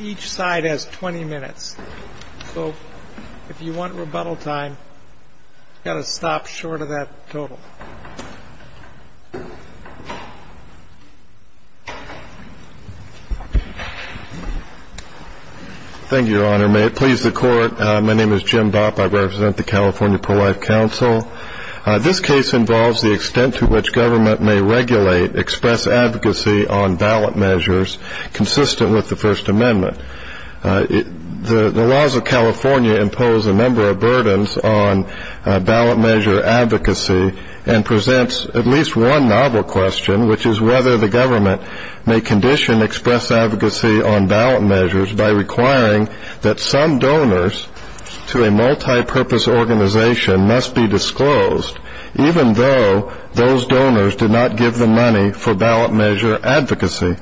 Each side has 20 minutes, so if you want rebuttal time, you've got to stop short of that total. Thank you, Your Honor. May it please the Court, my name is Jim Bopp. I represent the California Pro-Life Council. This case involves the extent to which government may regulate express advocacy on ballot measures consistent with the First Amendment. The laws of California impose a number of burdens on ballot measure advocacy and presents at least one novel question, which is whether the government may condition express advocacy on ballot measures by requiring that some donors to a multi-purpose organization must be disclosed, even though those donors did not give the money for ballot measure advocacy.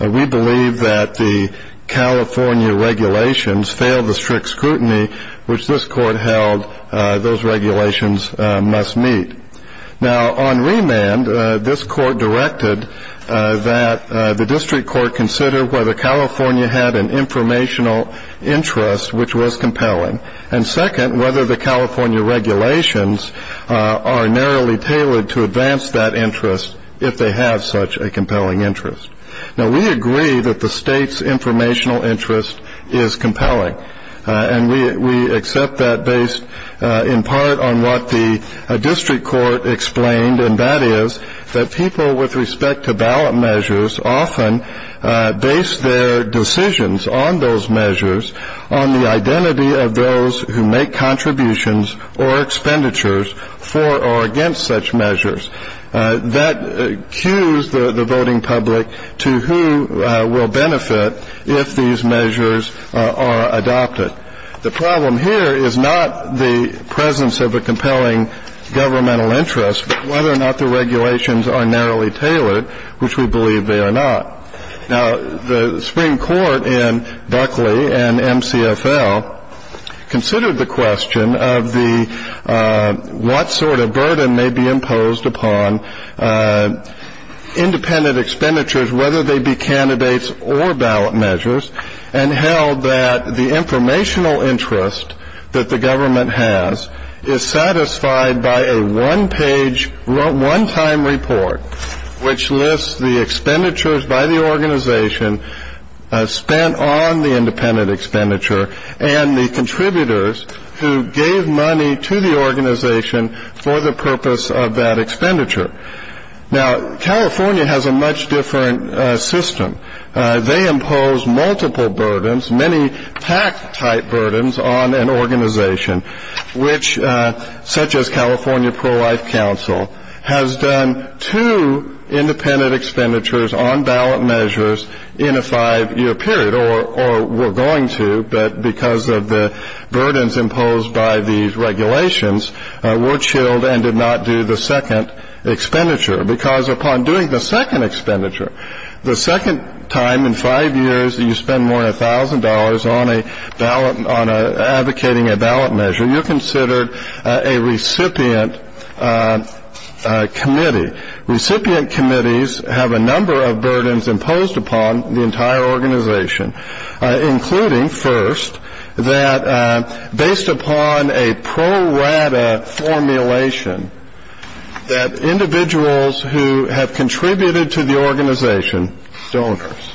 We believe that the California regulations fail the strict scrutiny which this Court held those regulations must meet. Now, on remand, this Court directed that the district court consider whether California had an informational interest which was compelling, and second, whether the California regulations are narrowly tailored to advance that interest if they have such a compelling interest. Now, we agree that the state's informational interest is compelling, and we accept that based in part on what the district court explained, and that is that people with respect to ballot measures often base their decisions on those measures on the identity of those who make contributions or expenditures for or against such measures. That cues the voting public to who will benefit if these measures are adopted. The problem here is not the presence of a compelling governmental interest, but whether or not the regulations are narrowly tailored, which we believe they are not. Now, the Supreme Court in Buckley and MCFL considered the question of what sort of burden may be imposed upon independent expenditures, whether they be candidates or ballot measures, and held that the informational interest that the government has is satisfied by a one-page, one-time report, which lists the expenditures by the organization spent on the independent expenditure and the contributors who gave money to the organization for the purpose of that expenditure. Now, California has a much different system. They impose multiple burdens, many tax-type burdens on an organization, which, such as California Pro-Life Council, has done two independent expenditures on ballot measures in a five-year period, or were going to, but because of the burdens imposed by these regulations were chilled and did not do the second expenditure, because upon doing the second expenditure, the second time in five years that you spend more than $1,000 on advocating a ballot measure, you're considered a recipient committee. Recipient committees have a number of burdens imposed upon the entire organization, including, first, that based upon a pro-rata formulation, that individuals who have contributed to the organization, donors,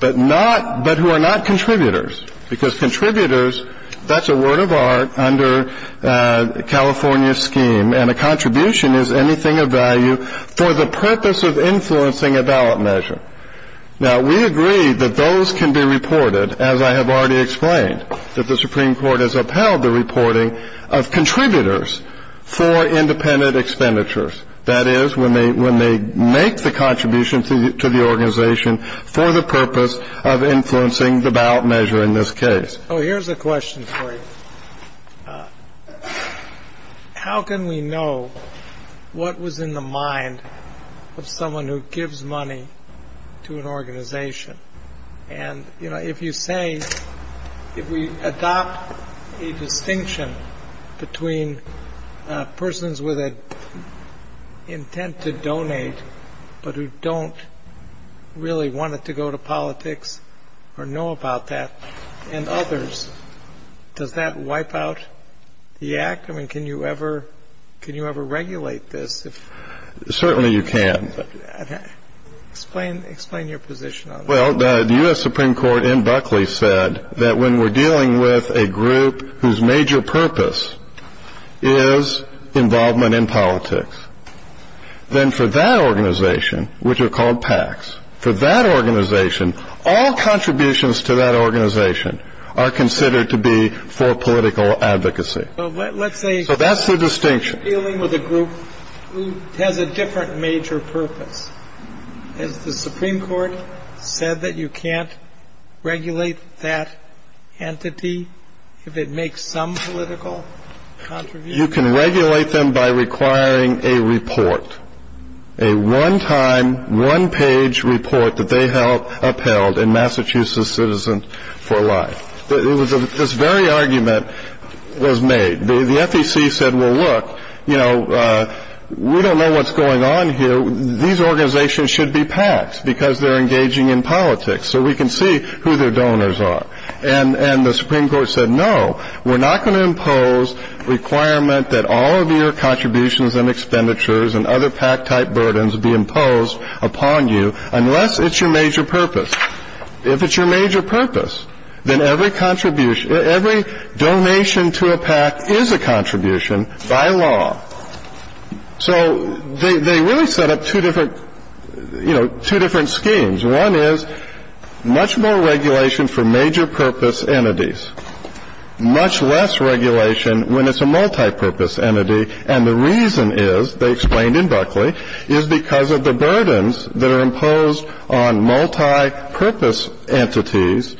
but who are not contributors, because contributors, that's a word of art under California's scheme, and a contribution is anything of value for the purpose of influencing a ballot measure. Now, we agree that those can be reported, as I have already explained, that the Supreme Court has upheld the reporting of contributors for independent expenditures, that is, when they make the contribution to the organization for the purpose of influencing the ballot measure in this case. Oh, here's a question for you. How can we know what was in the mind of someone who gives money to an organization? And, you know, if you say, if we adopt a distinction between persons with an intent to donate, but who don't really want it to go to politics or know about that, and others, does that wipe out the act? I mean, can you ever regulate this? Certainly you can. Explain your position on that. Well, the U.S. Supreme Court in Buckley said that when we're dealing with a group whose major purpose is involvement in politics, then for that organization, which are called PACs, for that organization, all contributions to that organization are considered to be for political advocacy. So let's say you're dealing with a group who has a different major purpose. Has the Supreme Court said that you can't regulate that entity if it makes some political contribution? You can regulate them by requiring a report, a one-time, one-page report that they upheld in Massachusetts Citizen for Life. This very argument was made. The FEC said, well, look, you know, we don't know what's going on here. These organizations should be PACs because they're engaging in politics so we can see who their donors are. And the Supreme Court said, no, we're not going to impose requirement that all of your contributions and expenditures and other PAC-type burdens be imposed upon you unless it's your major purpose. If it's your major purpose, then every contribution, every donation to a PAC is a contribution by law. So they really set up two different, you know, two different schemes. One is much more regulation for major purpose entities, much less regulation when it's a multipurpose entity. And the reason is, they explained in Buckley, is because of the burdens that are imposed on multipurpose entities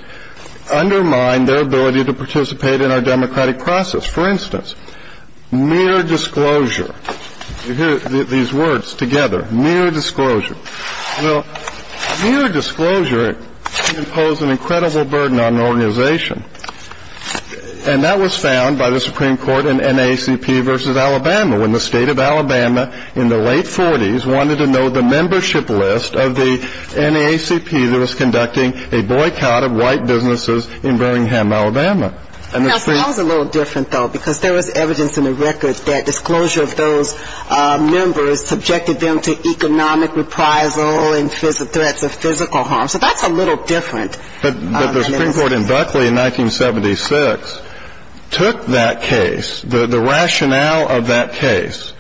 undermine their ability to participate in our democratic process. For instance, mere disclosure. You hear these words together, mere disclosure. Well, mere disclosure can impose an incredible burden on an organization. And that was found by the Supreme Court in NAACP versus Alabama, when the state of Alabama in the late 40s wanted to know the membership list of the NAACP that was conducting a boycott of white businesses in Birmingham, Alabama. That was a little different, though, because there was evidence in the records that disclosure of those members subjected them to economic reprisal and threats of physical harm. So that's a little different. But the Supreme Court in Buckley in 1976 took that case, the rationale of that case,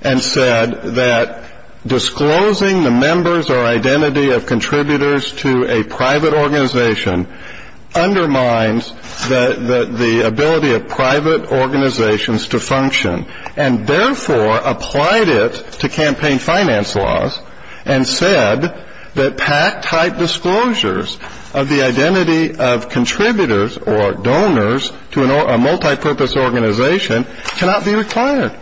and said that disclosing the members or identity of contributors to a private organization undermines the ability of private organizations to function, and therefore applied it to campaign finance laws and said that PAC-type disclosures of the identity of contributors or donors to a multipurpose organization cannot be required,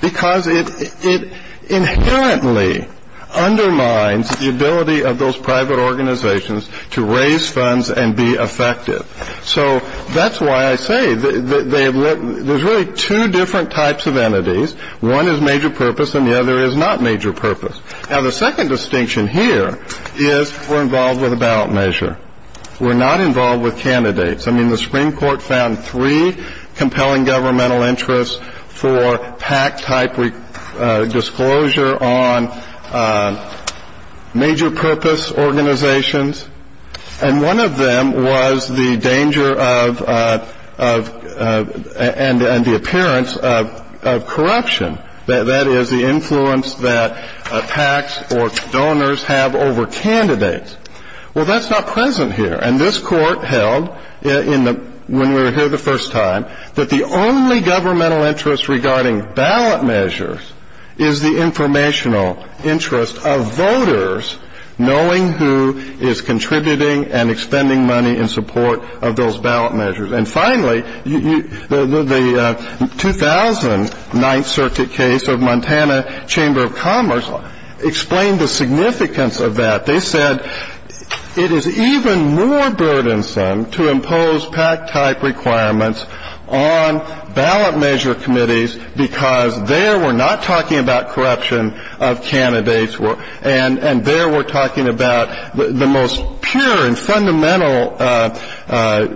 because it inherently undermines the ability of those private organizations to raise funds and be effective. So that's why I say there's really two different types of entities. One is major purpose, and the other is not major purpose. Now, the second distinction here is we're involved with a ballot measure. We're not involved with candidates. I mean, the Supreme Court found three compelling governmental interests for PAC-type disclosure on major purpose organizations. And one of them was the danger of and the appearance of corruption, that is, the influence that PACs or donors have over candidates. Well, that's not present here. And this Court held when we were here the first time that the only governmental interest regarding ballot measures is the informational interest of voters knowing who is contributing and expending money in support of those ballot measures. And finally, the 2009th Circuit case of Montana Chamber of Commerce explained the significance of that. They said it is even more burdensome to impose PAC-type requirements on ballot measure committees because there we're not talking about corruption of candidates, and there we're talking about the most pure and fundamental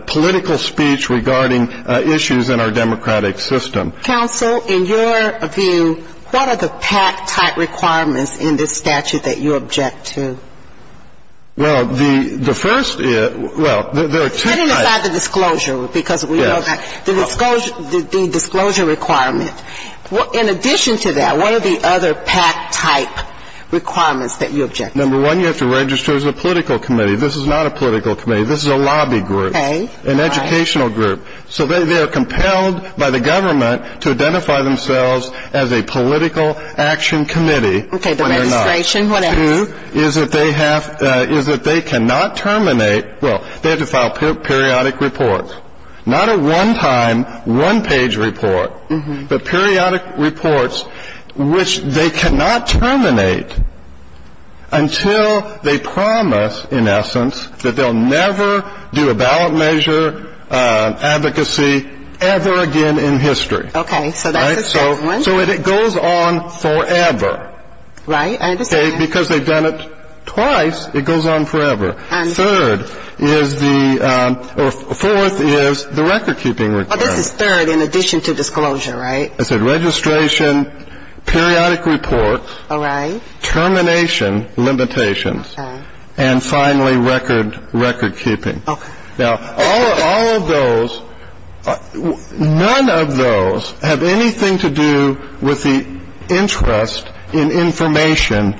political speech regarding issues in our democratic system. Counsel, in your view, what are the PAC-type requirements in this statute that you object to? Well, the first is, well, there are two types. I didn't decide the disclosure because we know that. The disclosure requirement. In addition to that, what are the other PAC-type requirements that you object to? Number one, you have to register as a political committee. This is not a political committee. This is a lobby group, an educational group. So they are compelled by the government to identify themselves as a political action committee. Okay, the registration, what else? Number two is that they cannot terminate, well, they have to file periodic reports. Not a one-time, one-page report, but periodic reports which they cannot terminate until they promise, in essence, that they'll never do a ballot measure advocacy ever again in history. Okay, so that's the second one. So it goes on forever. Right, I understand. Okay, because they've done it twice, it goes on forever. Third is the, or fourth is the recordkeeping requirement. Well, this is third in addition to disclosure, right? I said registration, periodic reports. All right. Termination limitations. Okay. And finally, recordkeeping. Okay. Now, all of those, none of those have anything to do with the interest in information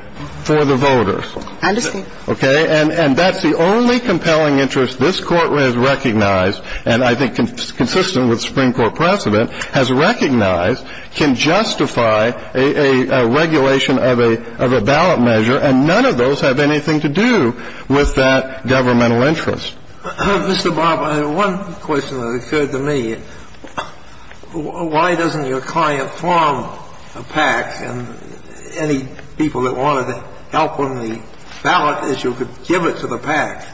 for the voters. I understand. Okay, and that's the only compelling interest this Court has recognized, and I think consistent with Supreme Court precedent, has recognized can justify a regulation of a ballot measure, and none of those have anything to do with that governmental interest. Mr. Bob, one question that occurred to me, why doesn't your client form a PAC, and any people that wanted to help on the ballot issue could give it to the PAC?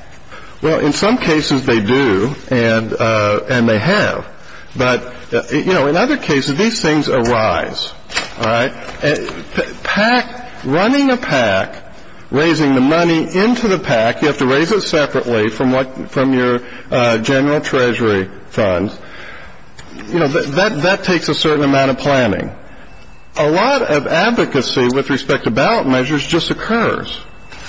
Well, in some cases they do, and they have. But, you know, in other cases, these things arise. All right. PAC, running a PAC, raising the money into the PAC, you have to raise it separately from what, from your general treasury funds, you know, that takes a certain amount of planning. A lot of advocacy with respect to ballot measures just occurs.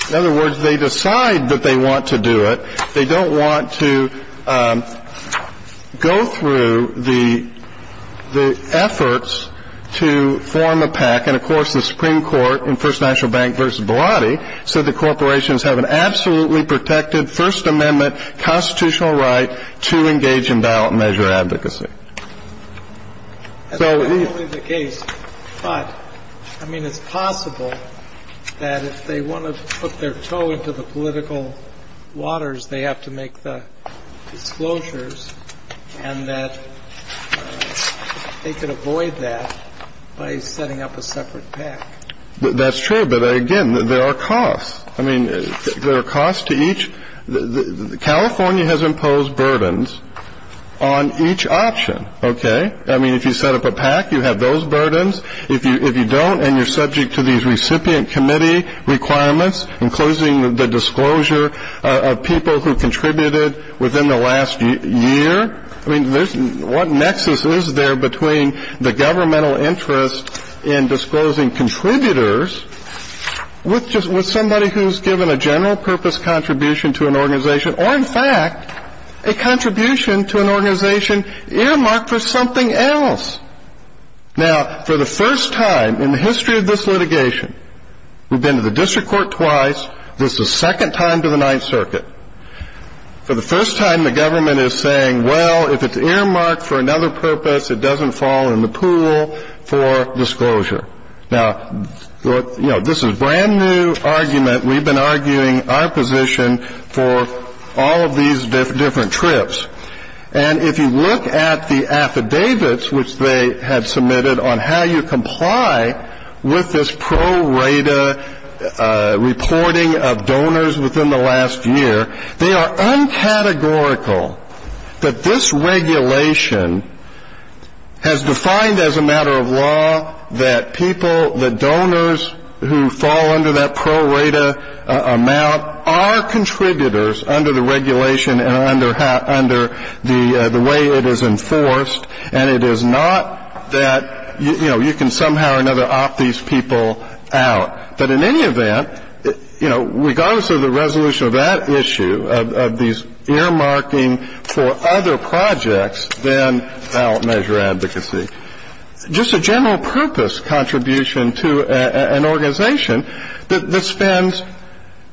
In other words, they decide that they want to do it. They don't want to go through the efforts to form a PAC. And, of course, the Supreme Court in First National Bank v. Bilotti said that corporations have an absolutely protected First Amendment constitutional right to engage in ballot measure advocacy. That's not only the case. But, I mean, it's possible that if they want to put their toe into the political waters, they have to make the disclosures and that they could avoid that by setting up a separate PAC. That's true. But, again, there are costs. I mean, there are costs to each. California has imposed burdens on each option. Okay? I mean, if you set up a PAC, you have those burdens. If you don't and you're subject to these recipient committee requirements, including the disclosure of people who contributed within the last year, I mean, what nexus is there between the governmental interest in disclosing contributors with somebody who's given a general purpose contribution to an organization, or, in fact, a contribution to an organization earmarked for something else? Now, for the first time in the history of this litigation, we've been to the district court twice. This is the second time to the Ninth Circuit. For the first time, the government is saying, well, if it's earmarked for another purpose, it doesn't fall in the pool for disclosure. Now, you know, this is a brand-new argument. We've been arguing our position for all of these different trips. And if you look at the affidavits, which they had submitted, on how you comply with this pro rata reporting of donors within the last year, they are uncategorical that this regulation has defined as a matter of law that people, that donors who fall under that pro rata amount are contributors under the regulation and under the way it is enforced. And it is not that, you know, you can somehow or another opt these people out. But in any event, you know, regardless of the resolution of that issue, of these earmarking for other projects, then I'll measure advocacy. Just a general purpose contribution to an organization that spends,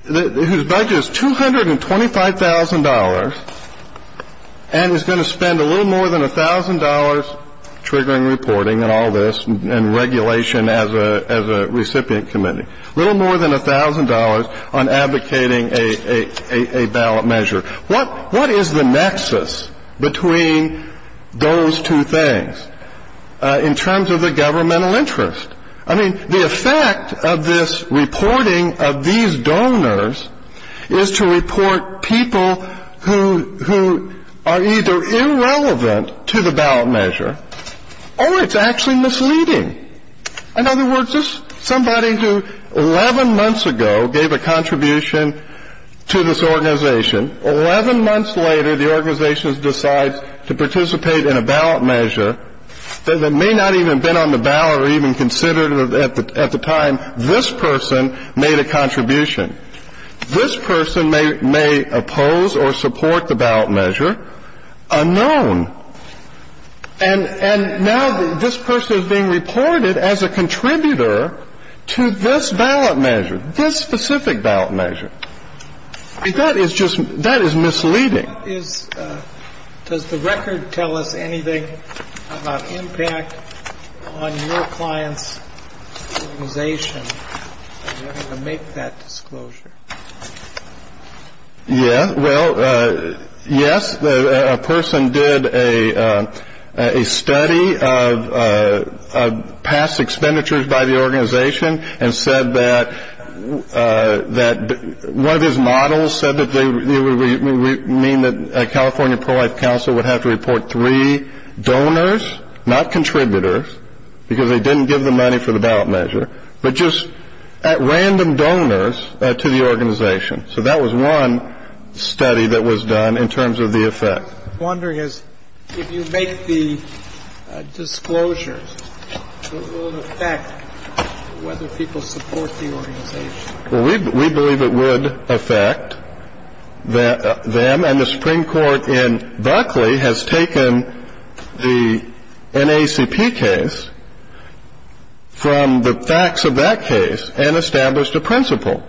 whose budget is $225,000, and is going to spend a little more than $1,000 triggering reporting and all this and regulation as a recipient committee. A little more than $1,000 on advocating a ballot measure. What is the nexus between those two things in terms of the governmental interest? I mean, the effect of this reporting of these donors is to report people who are either irrelevant to the ballot measure or it's actually misleading. In other words, somebody who 11 months ago gave a contribution to this organization, 11 months later the organization decides to participate in a ballot measure that may not even have been on the ballot or even considered at the time this person made a contribution. This person may oppose or support the ballot measure unknown. And now this person is being reported as a contributor to this ballot measure, this specific ballot measure. That is misleading. Does the record tell us anything about impact on your client's organization in order to make that disclosure? Yeah. Well, yes, a person did a study of past expenditures by the organization and said that one of his models said that California Pro-Life Council would have to report three donors, not contributors, because they didn't give the money for the ballot measure, but just random donors to the organization. So that was one study that was done in terms of the effect. I'm wondering if you make the disclosure, will it affect whether people support the organization? Well, we believe it would affect them. And the Supreme Court in Buckley has taken the NACP case from the facts of that case and established a principle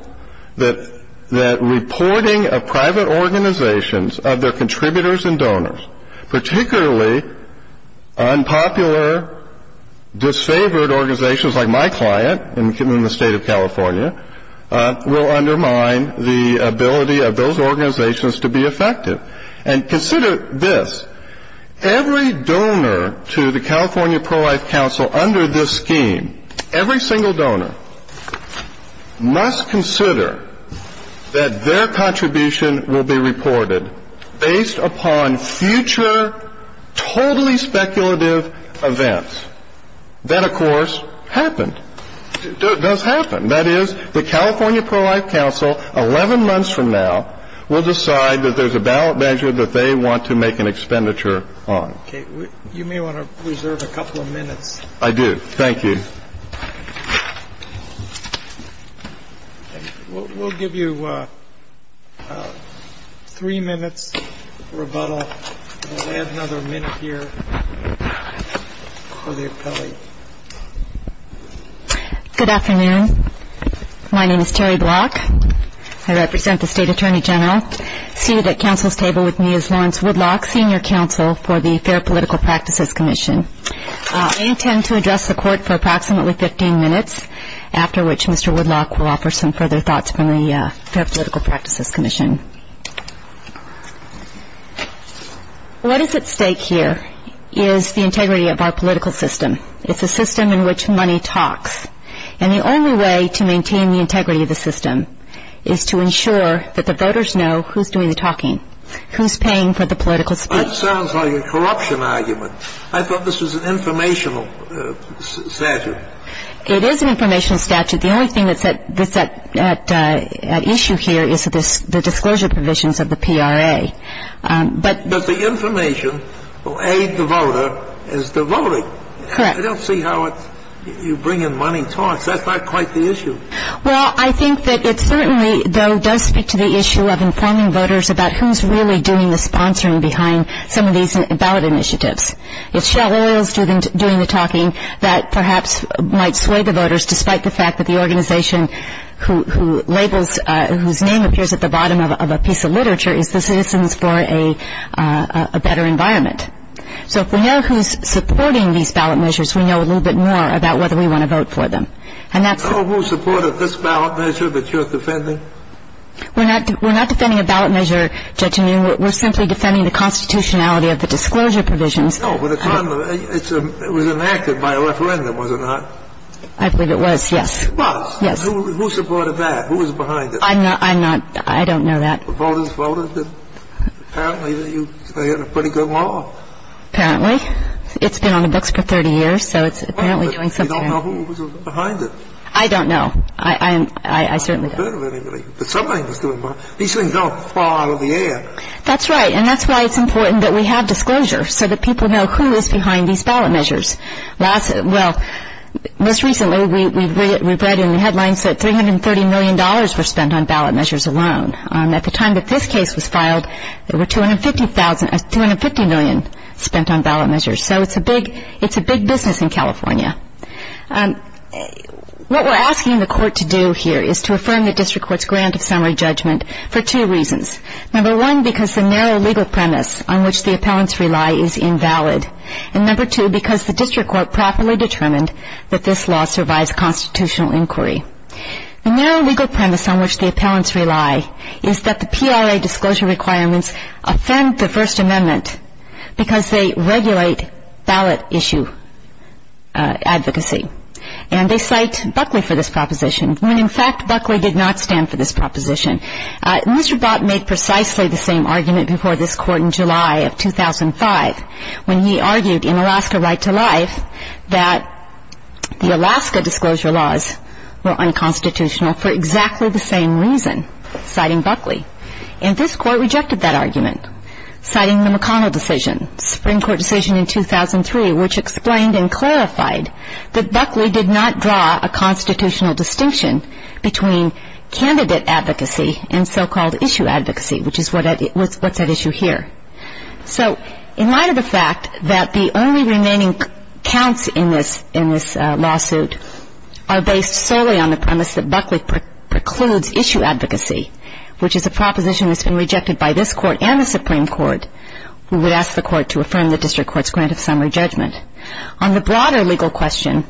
that reporting of private organizations of their contributors and donors, particularly unpopular, disfavored organizations like my client in the state of California, will undermine the ability of those organizations to be effective. And consider this, every donor to the California Pro-Life Council under this scheme, every single donor must consider that their contribution will be reported based upon future totally speculative events. That, of course, happened, does happen. That is, the California Pro-Life Council, 11 months from now, will decide that there's a ballot measure that they want to make an expenditure on. Okay. You may want to reserve a couple of minutes. I do. Thank you. We'll give you three minutes rebuttal. We'll add another minute here for the appellee. Good afternoon. My name is Terri Block. I represent the State Attorney General. Seated at Council's table with me is Lawrence Woodlock, Senior Counsel for the Fair Political Practices Commission. I intend to address the Court for approximately 15 minutes, after which Mr. Woodlock will offer some further thoughts from the Fair Political Practices Commission. What is at stake here is the integrity of our political system. It's a system in which money talks. And the only way to maintain the integrity of the system is to ensure that the voters know who's doing the talking, who's paying for the political speech. That sounds like a corruption argument. I thought this was an informational statute. It is an informational statute. The only thing that's at issue here is the disclosure provisions of the PRA. But the information will aid the voter as to voting. Correct. I don't see how you bring in money talks. That's not quite the issue. Well, I think that it certainly, though, does speak to the issue of informing voters about who's really doing the sponsoring behind some of these ballot initiatives. It's Shell Oil's doing the talking that perhaps might sway the voters, despite the fact that the organization whose name appears at the bottom of a piece of literature is the Citizens for a Better Environment. So if we know who's supporting these ballot measures, we know a little bit more about whether we want to vote for them. Do you know who supported this ballot measure that you're defending? We're not defending a ballot measure, Judge Newman. We're simply defending the constitutionality of the disclosure provisions. No, but it was enacted by a referendum, was it not? I believe it was, yes. It was? Yes. Who supported that? Who was behind it? I'm not – I don't know that. The voters voted? Apparently they had a pretty good law. Apparently. It's been on the books for 30 years, so it's apparently doing something. You don't know who was behind it? I don't know. I certainly don't. These things don't fly out of the air. That's right, and that's why it's important that we have disclosure, so that people know who is behind these ballot measures. Well, most recently we've read in the headlines that $330 million were spent on ballot measures alone. At the time that this case was filed, there were $250 million spent on ballot measures. So it's a big business in California. What we're asking the court to do here is to affirm the district court's grant of summary judgment for two reasons. Number one, because the narrow legal premise on which the appellants rely is invalid. And number two, because the district court properly determined that this law survives constitutional inquiry. The narrow legal premise on which the appellants rely is that the PRA disclosure requirements offend the First Amendment because they regulate ballot issue advocacy, and they cite Buckley for this proposition when, in fact, Buckley did not stand for this proposition. Mr. Bott made precisely the same argument before this court in July of 2005 when he argued in Alaska Right to Life that the Alaska disclosure laws were unconstitutional for exactly the same reason, citing Buckley. And this court rejected that argument, citing the McConnell decision, a Supreme Court decision in 2003 which explained and clarified that Buckley did not draw a constitutional distinction between candidate advocacy and so-called issue advocacy, which is what's at issue here. So in light of the fact that the only remaining counts in this lawsuit are based solely on the premise that Buckley precludes issue advocacy, which is a proposition that's been rejected by this court and the Supreme Court, we would ask the court to affirm the district court's grant of summary judgment. On the broader legal question,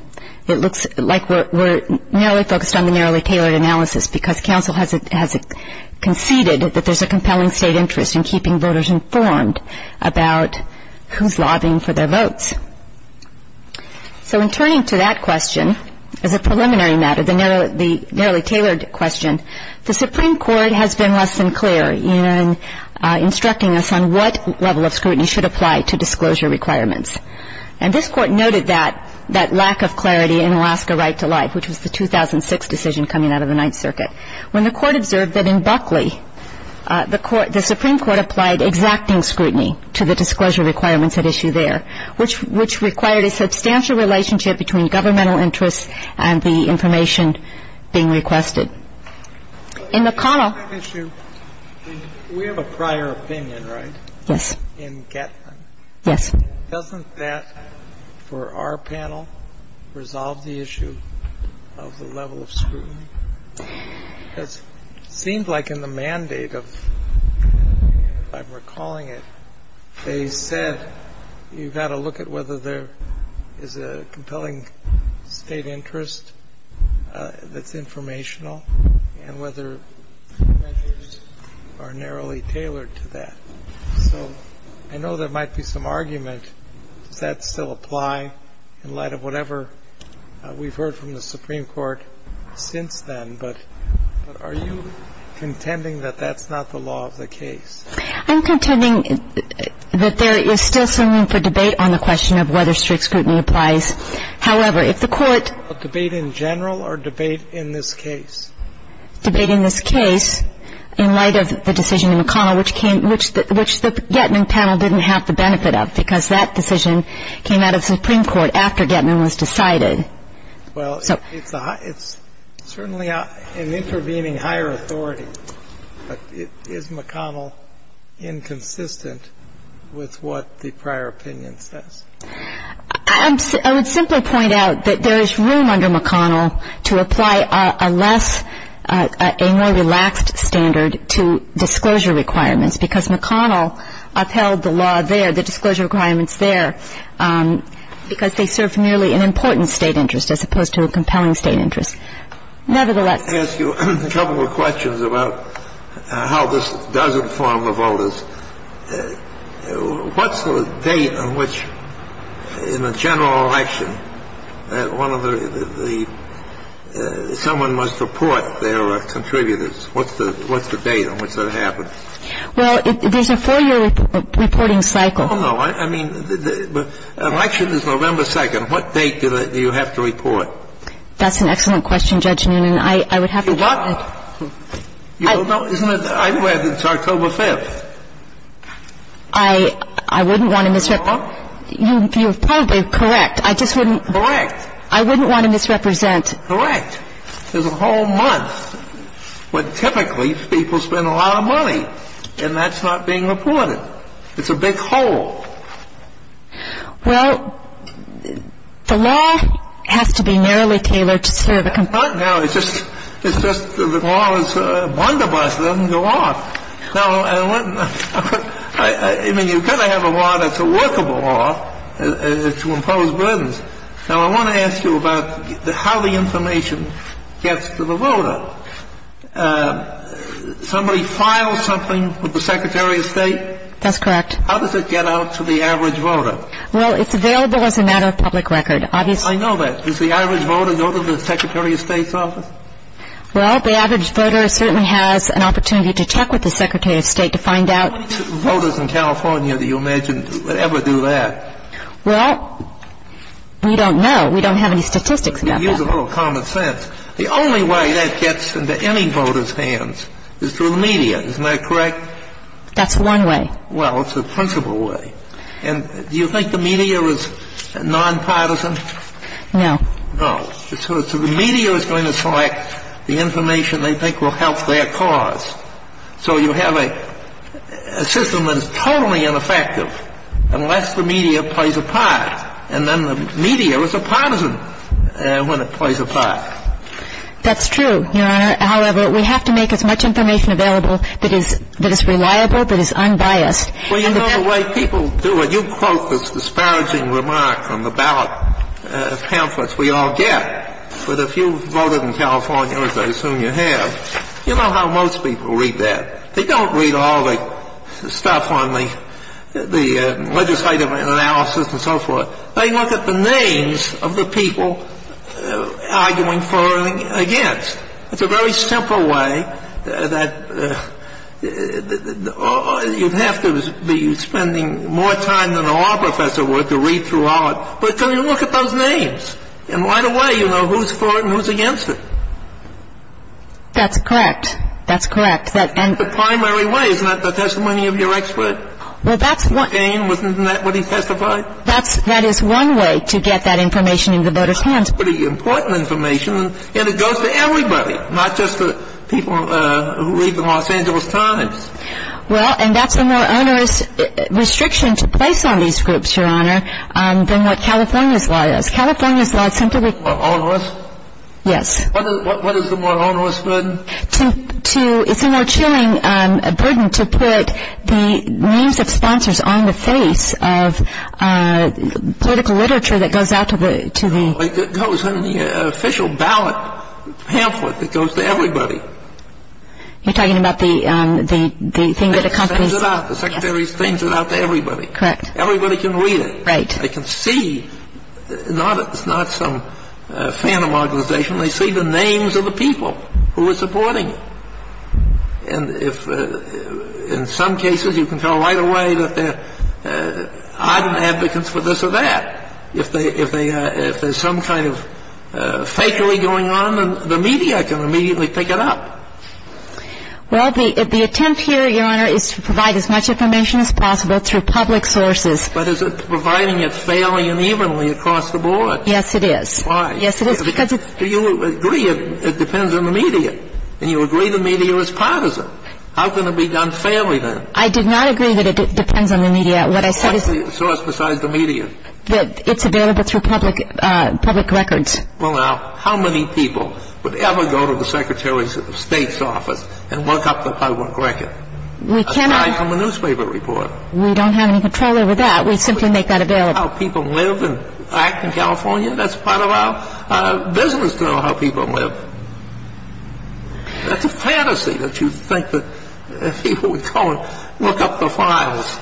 it looks like we're narrowly focused on the narrowly tailored analysis because counsel has conceded that there's a compelling state interest in keeping voters informed about who's lobbying for their votes. So in turning to that question as a preliminary matter, the narrowly tailored question, the Supreme Court has been less than clear in instructing us on what level of scrutiny should apply to disclosure requirements. And this court noted that lack of clarity in Alaska Right to Life, which was the 2006 decision coming out of the Ninth Circuit, when the court observed that in Buckley the Supreme Court applied exacting scrutiny to the disclosure requirements at issue there, which required a substantial relationship between governmental interests and the information being requested. In McConnell ---- We have a prior opinion, right? Yes. In Gatlin. Yes. Doesn't that, for our panel, resolve the issue of the level of scrutiny? It seems like in the mandate of, if I'm recalling it, they said you've got to look at whether there is a compelling state interest that's informational and whether measures are narrowly tailored to that. So I know there might be some argument. Does that still apply in light of whatever we've heard from the Supreme Court since then, but are you contending that that's not the law of the case? I'm contending that there is still some room for debate on the question of whether strict scrutiny applies. However, if the court ---- A debate in general or a debate in this case? A debate in this case in light of the decision in McConnell, which the Gatlin panel didn't have the benefit of, because that decision came out of the Supreme Court after Gatlin was decided. Well, it's certainly an intervening higher authority. Is McConnell inconsistent with what the prior opinion says? I would simply point out that there is room under McConnell to apply a less, a more relaxed standard to disclosure requirements, because McConnell upheld the law there, the disclosure requirements there, because they served merely an important State interest as opposed to a compelling State interest. Nevertheless ---- Let me ask you a couple of questions about how this does inform the voters. What's the date on which in a general election that one of the ---- someone must report their contributors? What's the date on which that happens? Well, there's a four-year reporting cycle. Well, no. I mean, the election is November 2nd. What date do you have to report? That's an excellent question, Judge Newnan. I would have to ---- You don't know. Isn't it? It's October 5th. I wouldn't want to misrep ---- You're probably correct. I just wouldn't ---- Correct. I wouldn't want to misrepresent. Correct. There's a whole month where typically people spend a lot of money, and that's not being reported. It's a big hole. Well, the law has to be narrowly tailored to serve a ---- Right now, it's just that the law is a wonder bus. It doesn't go off. Now, I wouldn't ---- I mean, you've got to have a law that's a workable law to impose burdens. Now, I want to ask you about how the information gets to the voter. Somebody files something with the Secretary of State? That's correct. How does it get out to the average voter? Well, it's available as a matter of public record. Obviously ---- I know that. Does the average voter go to the Secretary of State's office? Well, the average voter certainly has an opportunity to talk with the Secretary of State to find out ---- How many voters in California do you imagine would ever do that? Well, we don't know. We don't have any statistics about that. Use a little common sense. The only way that gets into any voter's hands is through the media. Isn't that correct? That's one way. Well, it's the principal way. And do you think the media is nonpartisan? No. No. So the media is going to select the information they think will help their cause. So you have a system that is totally ineffective unless the media plays a part. And then the media is a partisan when it plays a part. That's true, Your Honor. However, we have to make as much information available that is reliable, that is unbiased. Well, you know the way people do it. You quote this disparaging remark from the ballot pamphlets we all get. But if you voted in California, as I assume you have, you know how most people read that. They don't read all the stuff on the legislative analysis and so forth. They look at the names of the people arguing for and against. It's a very simple way that you'd have to be spending more time than a law professor would to read through all it. But then you look at those names, and right away you know who's for it and who's against it. That's correct. That's correct. The primary way is not the testimony of your expert. Well, that's one. McCain, wasn't that what he testified? That is one way to get that information into the voters' hands. It's pretty important information, and it goes to everybody, not just the people who read the Los Angeles Times. Well, and that's a more onerous restriction to place on these groups, Your Honor, than what California's law is. California's law is simply more onerous. Yes. What is the more onerous burden? It's a more chilling burden to put the names of sponsors on the face of political literature that goes out to the- It goes in the official ballot pamphlet that goes to everybody. You're talking about the thing that accompanies- The secretary sends it out to everybody. Correct. Everybody can read it. Right. Everybody can see. It's not some phantom organization. They see the names of the people who are supporting it. And in some cases, you can tell right away that there are either advocates for this or that. If there's some kind of fakery going on, the media can immediately pick it up. Well, the attempt here, Your Honor, is to provide as much information as possible through public sources. But is it providing it fairly and evenly across the board? Yes, it is. Why? Yes, it is because it's- Do you agree it depends on the media? And you agree the media is partisan. How can it be done fairly, then? I did not agree that it depends on the media. What I said is- What's the source besides the media? It's available through public records. Well, now, how many people would ever go to the Secretary of State's office and look up the public record? We cannot- Aside from the newspaper report. We don't have any control over that. We simply make that available. How people live and act in California, that's part of our business to know how people live. That's a fantasy that you think that people would go and look up the files.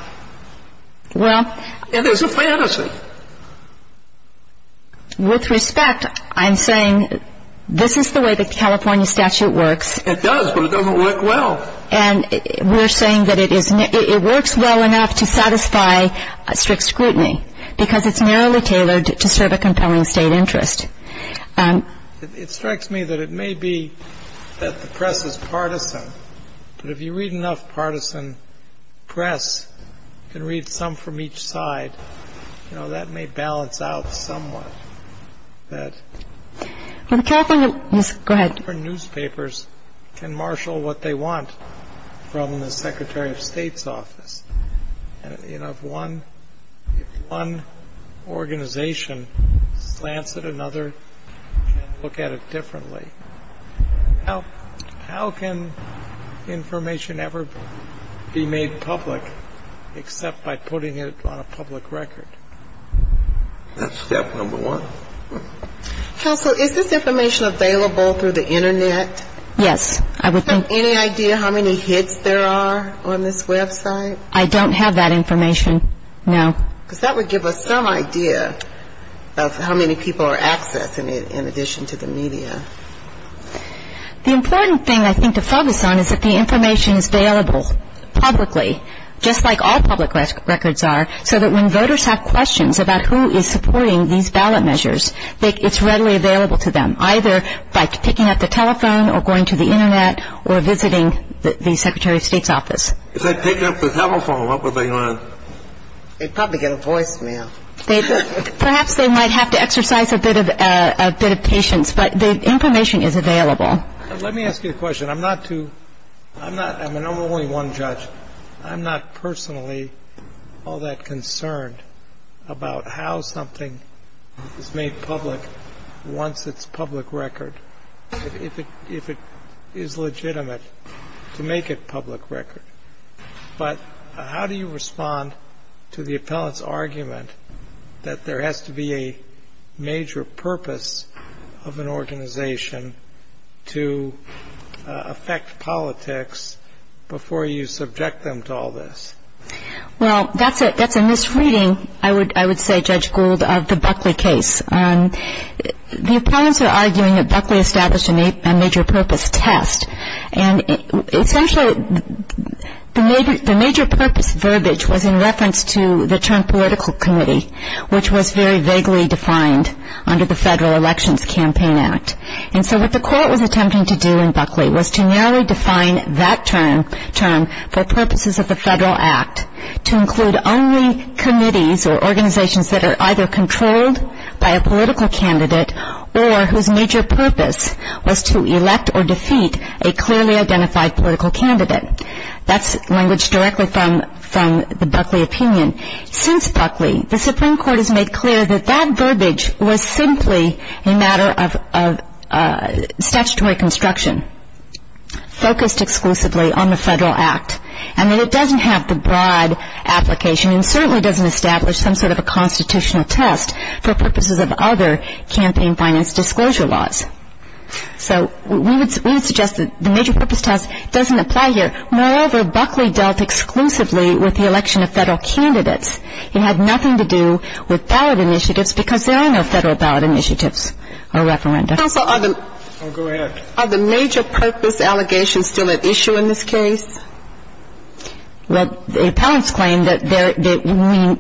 Well- It is a fantasy. With respect, I'm saying this is the way the California statute works. It does, but it doesn't work well. And we're saying that it works well enough to satisfy strict scrutiny because it's narrowly tailored to serve a compelling state interest. It strikes me that it may be that the press is partisan, but if you read enough partisan press and read some from each side, you know, that may balance out somewhat that- Well, the California- Yes, go ahead. How many different newspapers can marshal what they want from the Secretary of State's office? You know, if one organization slants at another and look at it differently, how can information ever be made public except by putting it on a public record? That's step number one. Counsel, is this information available through the Internet? Yes, I would think- Do you have any idea how many hits there are on this website? I don't have that information, no. Because that would give us some idea of how many people are accessing it in addition to the media. The important thing, I think, to focus on is that the information is available publicly, just like all public records are, so that when voters have questions about who is supporting these ballot measures, it's readily available to them, either by picking up the telephone or going to the Internet or visiting the Secretary of State's office. If they'd picked up the telephone, what would they want? They'd probably get a voicemail. Perhaps they might have to exercise a bit of patience, but the information is available. Let me ask you a question. I'm not too-I'm not-I mean, I'm only one judge. I'm not personally all that concerned about how something is made public once it's public record, if it is legitimate to make it public record. But how do you respond to the appellant's argument that there has to be a major purpose of an organization to affect politics before you subject them to all this? Well, that's a misreading, I would say, Judge Gould, of the Buckley case. The appellants are arguing that Buckley established a major purpose test, and essentially the major purpose verbiage was in reference to the Trump political committee, which was very vaguely defined under the Federal Elections Campaign Act. And so what the court was attempting to do in Buckley was to narrowly define that term for purposes of the Federal Act to include only committees or organizations that are either controlled by a political candidate or whose major purpose was to elect or defeat a clearly identified political candidate. That's language directly from the Buckley opinion. Since Buckley, the Supreme Court has made clear that that verbiage was simply a matter of statutory construction, focused exclusively on the Federal Act, and that it doesn't have the broad application and certainly doesn't establish some sort of a constitutional test for purposes of other campaign finance disclosure laws. So we would suggest that the major purpose test doesn't apply here. Moreover, Buckley dealt exclusively with the election of Federal candidates. It had nothing to do with ballot initiatives because there are no Federal ballot initiatives or referenda. Counsel, are the major purpose allegations still at issue in this case? Well, the appellants claim that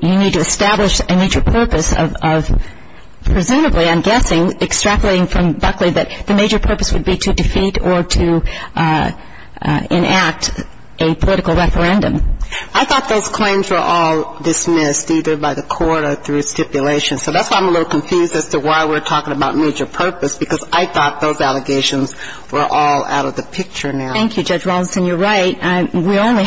you need to establish a major purpose of presumably, I'm guessing, extrapolating from Buckley that the major purpose would be to defeat or to enact a political referendum. I thought those claims were all dismissed either by the court or through stipulation. So that's why I'm a little confused as to why we're talking about major purpose, because I thought those allegations were all out of the picture now. Thank you, Judge Rawlinson. You're right. And as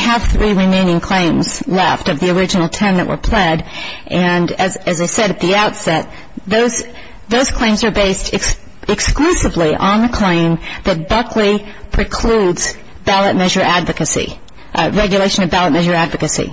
I said at the outset, those claims are based exclusively on the claim that Buckley precludes ballot measure advocacy, regulation of ballot measure advocacy.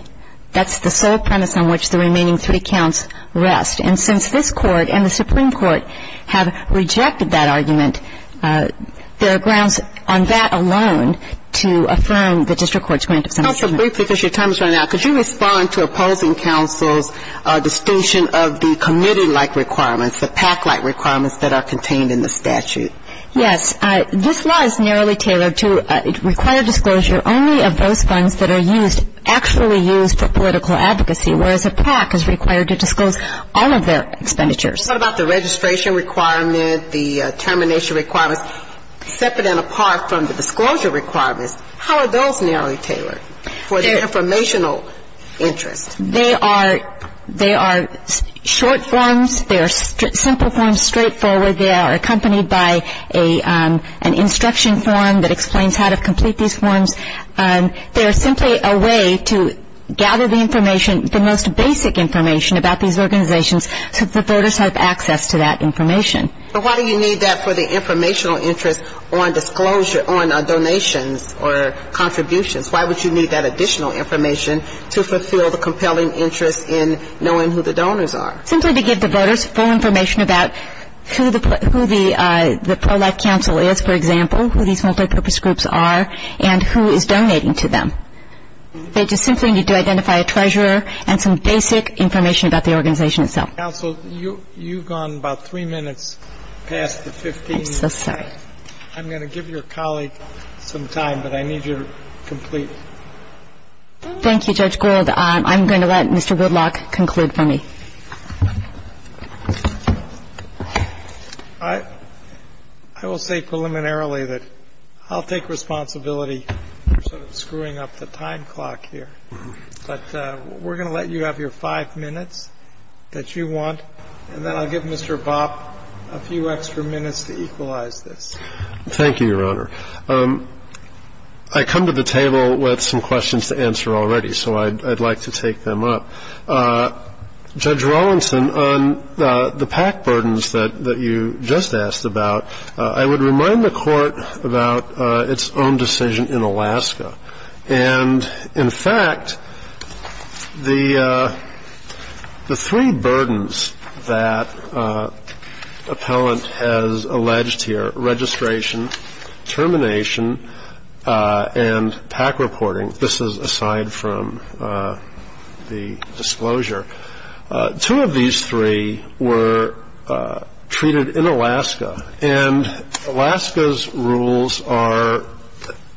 That's the sole premise on which the remaining three counts rest. And since this Court and the Supreme Court have rejected that argument, there are grounds on that alone to affirm the district court's grant of some action. Counsel, briefly, because your time is running out, could you respond to opposing counsel's distinction of the committee-like requirements, the PAC-like requirements that are contained in the statute? Yes. This law is narrowly tailored to require disclosure only of those funds that are used, actually used for political advocacy, whereas a PAC is required to disclose all of their expenditures. What about the registration requirement, the termination requirements? Those are separate and apart from the disclosure requirements. How are those narrowly tailored for the informational interest? They are short forms. They are simple forms, straightforward. They are accompanied by an instruction form that explains how to complete these forms. They are simply a way to gather the information, the most basic information about these organizations, so that the voters have access to that information. But why do you need that for the informational interest on disclosure, on donations or contributions? Why would you need that additional information to fulfill the compelling interest in knowing who the donors are? Simply to give the voters full information about who the pro-life counsel is, for example, who these multipurpose groups are, and who is donating to them. They just simply need to identify a treasurer and some basic information about the organization itself. Counsel, you've gone about three minutes past the 15 minute mark. I'm so sorry. I'm going to give your colleague some time, but I need you to complete. Thank you, Judge Gould. I'm going to let Mr. Woodlock conclude for me. I will say preliminarily that I'll take responsibility for sort of screwing up the time clock here. But we're going to let you have your five minutes that you want, and then I'll give Mr. Bopp a few extra minutes to equalize this. Thank you, Your Honor. I come to the table with some questions to answer already, so I'd like to take them up. Judge Rawlinson, on the PAC burdens that you just asked about, I would remind the Court about its own decision in Alaska. And, in fact, the three burdens that appellant has alleged here, registration, termination, and PAC reporting, this is aside from the disclosure, two of these three were treated in Alaska, and Alaska's rules are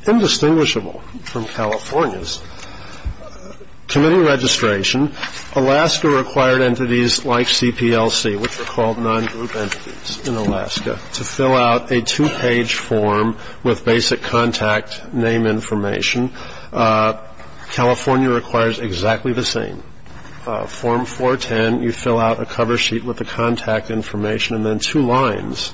indistinguishable from California's. Committee registration, Alaska required entities like CPLC, which are called non-group entities in Alaska, to fill out a two-page form with basic contact name information. California requires exactly the same. Form 410, you fill out a cover sheet with the contact information and then two lines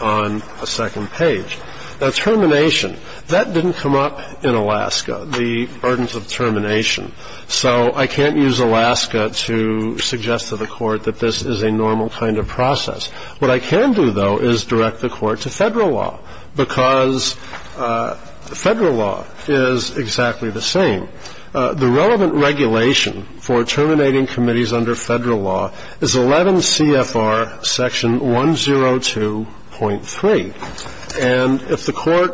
on the second page. Now, termination, that didn't come up in Alaska, the burdens of termination. So I can't use Alaska to suggest to the Court that this is a normal kind of process. What I can do, though, is direct the Court to federal law because federal law is exactly the same. The relevant regulation for terminating committees under federal law is 11 CFR section 102.3. And if the Court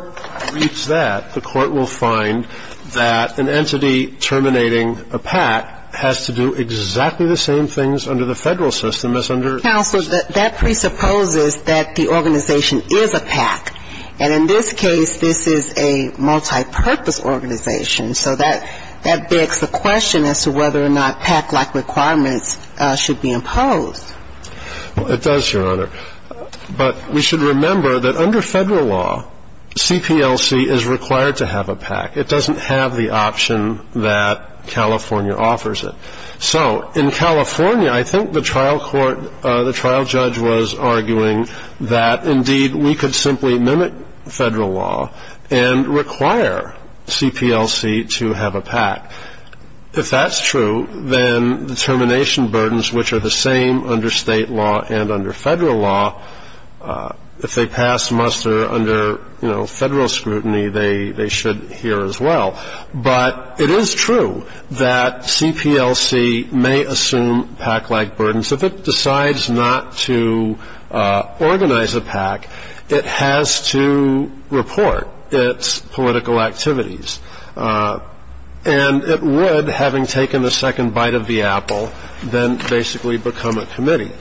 reads that, the Court will find that an entity terminating a PAC has to do exactly the same things under the federal system as under the federal system. Counsel, that presupposes that the organization is a PAC. And in this case, this is a multipurpose organization. So that begs the question as to whether or not PAC-like requirements should be imposed. Well, it does, Your Honor. But we should remember that under federal law, CPLC is required to have a PAC. It doesn't have the option that California offers it. So in California, I think the trial court, the trial judge was arguing that, indeed, we could simply mimic federal law and require CPLC to have a PAC. If that's true, then the termination burdens, which are the same under state law and under federal law, if they pass muster under, you know, federal scrutiny, they should here as well. But it is true that CPLC may assume PAC-like burdens. If it decides not to organize a PAC, it has to report its political activities. And it would, having taken the second bite of the apple, then basically become a committee.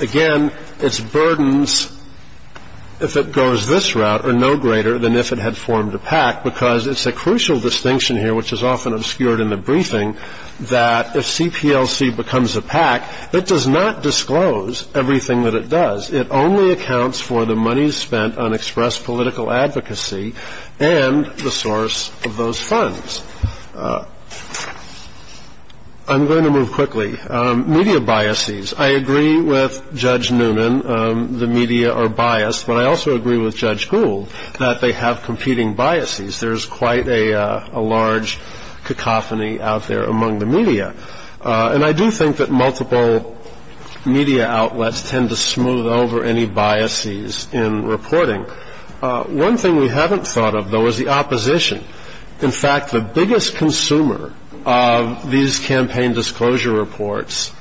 Again, its burdens, if it goes this route, are no greater than if it had formed a PAC, because it's a crucial distinction here, which is often obscured in the briefing, that if CPLC becomes a PAC, it does not disclose everything that it does. It only accounts for the money spent on expressed political advocacy and the source of those funds. I'm going to move quickly. Media biases. I agree with Judge Newman. The media are biased. But I also agree with Judge Gould that they have competing biases. There is quite a large cacophony out there among the media. And I do think that multiple media outlets tend to smooth over any biases in reporting. One thing we haven't thought of, though, is the opposition. In fact, the biggest consumer of these campaign disclosure reports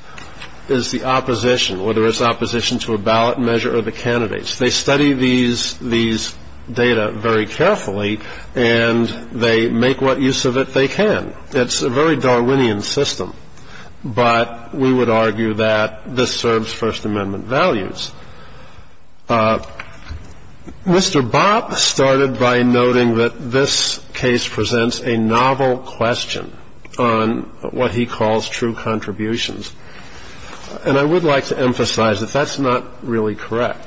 is the opposition, whether it's opposition to a ballot measure or the candidates. They study these data very carefully, and they make what use of it they can. It's a very Darwinian system. But we would argue that this serves First Amendment values. Mr. Bob started by noting that this case presents a novel question on what he calls true contributions. And I would like to emphasize that that's not really correct.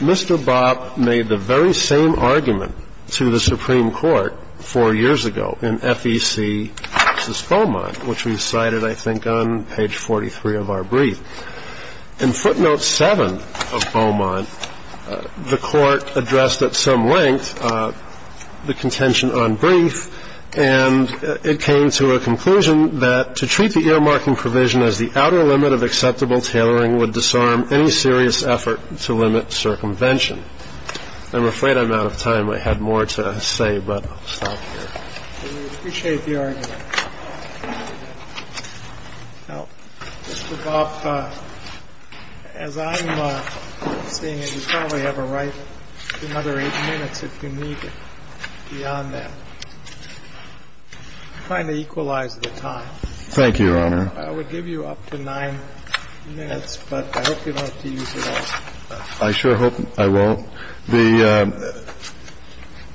Mr. Bob made the very same argument to the Supreme Court four years ago in FEC versus Beaumont, which we cited, I think, on page 43 of our brief. In footnote 7 of Beaumont, the Court addressed at some length the contention on brief, and it came to a conclusion that to treat the earmarking provision as the outer limit of acceptable tailoring would disarm any serious effort to limit circumvention. I'm afraid I'm out of time. I had more to say, but I'll stop here. We appreciate the argument. Now, Mr. Bob, as I'm seeing it, you probably have a right to another eight minutes if you need beyond that. I'm trying to equalize the time. Thank you, Your Honor. I would give you up to nine minutes, but I hope you don't have to use it all. I sure hope I won't.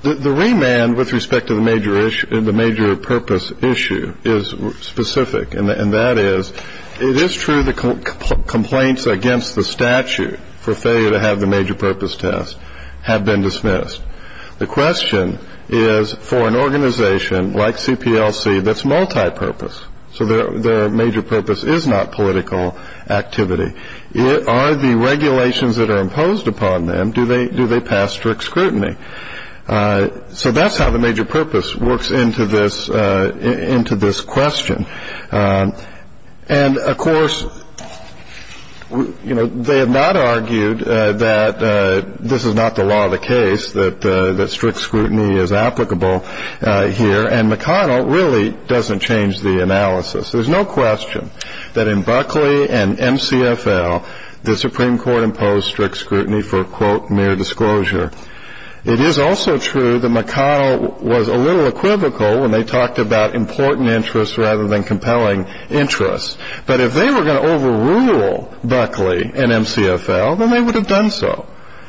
The remand with respect to the major purpose issue is specific, and that is it is true that complaints against the statute for failure to have the major purpose test have been dismissed. The question is for an organization like CPLC that's multipurpose, so their major purpose is not political activity, it are the regulations that are imposed upon them, do they pass strict scrutiny? So that's how the major purpose works into this question. And, of course, you know, they have not argued that this is not the law of the case, that strict scrutiny is applicable here, and McConnell really doesn't change the analysis. There's no question that in Buckley and MCFL, the Supreme Court imposed strict scrutiny for, quote, mere disclosure. It is also true that McConnell was a little equivocal when they talked about important interests rather than compelling interests. But if they were going to overrule Buckley and MCFL, then they would have done so.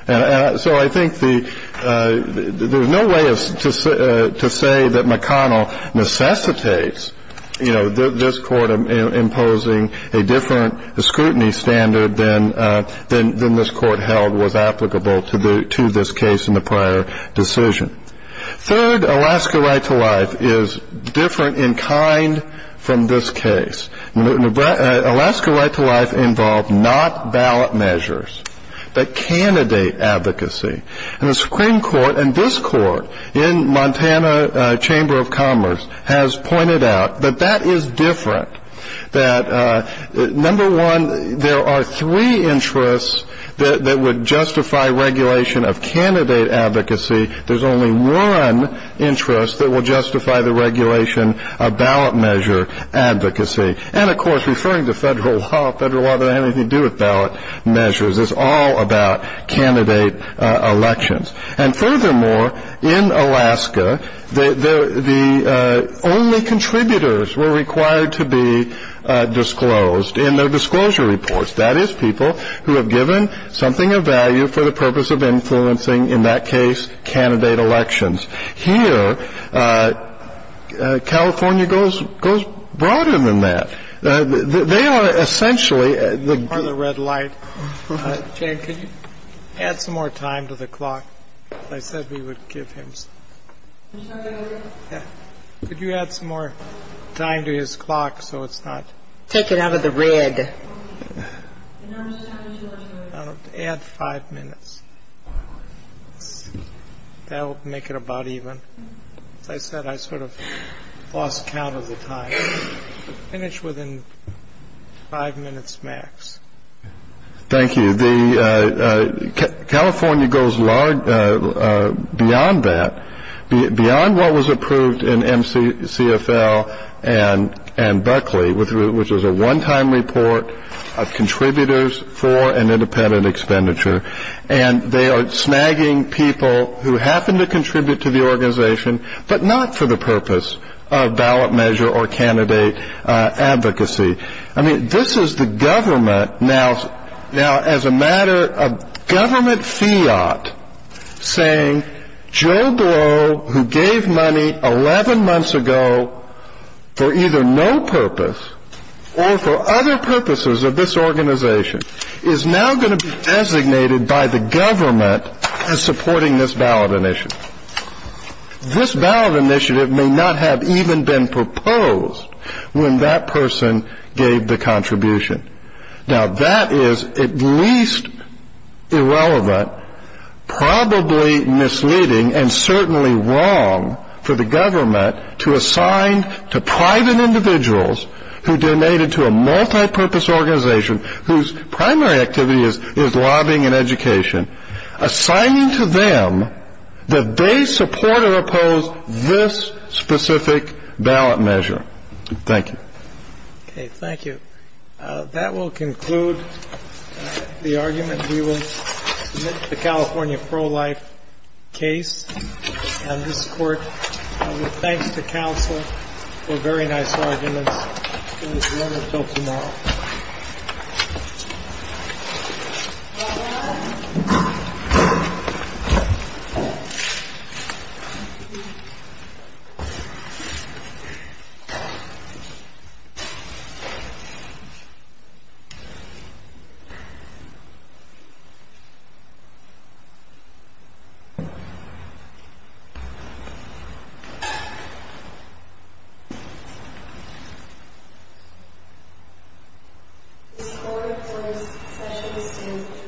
So I think there's no way to say that McConnell necessitates, you know, this court imposing a different scrutiny standard than this court held was applicable to this case in the prior decision. Third, Alaska right to life is different in kind from this case. Alaska right to life involved not ballot measures, but candidate advocacy. And the Supreme Court and this court in Montana Chamber of Commerce has pointed out that that is different, that, number one, there are three interests that would justify regulation of candidate advocacy. There's only one interest that will justify the regulation of ballot measure advocacy. And, of course, referring to federal law, federal law doesn't have anything to do with ballot measures. It's all about candidate elections. And furthermore, in Alaska, the only contributors were required to be disclosed in their disclosure reports. That is people who have given something of value for the purpose of influencing, in that case, candidate elections. Here, California goes goes broader than that. They are essentially the red light. Can you add some more time to the clock? I said we would give him. Could you add some more time to his clock so it's not taken out of the red? Add five minutes. They'll make it about even. I said I sort of lost count of the time. Finish within five minutes, Max. Thank you. California goes beyond that, beyond what was approved in MCCFL and Buckley, which was a one-time report of contributors for an independent expenditure. And they are snagging people who happen to contribute to the organization, but not for the purpose of ballot measure or candidate advocacy. I mean, this is the government now as a matter of government fiat saying Joe Blow, who gave money 11 months ago for either no purpose or for other purposes of this organization, is now going to be designated by the government as supporting this ballot initiative. This ballot initiative may not have even been proposed when that person gave the contribution. Now, that is at least irrelevant, probably misleading, and certainly wrong for the government to assign to private individuals who donated to a multi-purpose organization whose primary activity is lobbying and education, assigning to them that they support or oppose this specific ballot measure. Thank you. Okay. Thank you. That will conclude the argument. We will submit the California pro-life case on this Court. And thanks to counsel for very nice arguments. Thank you. Thank you. This Court is closed. Session is adjourned.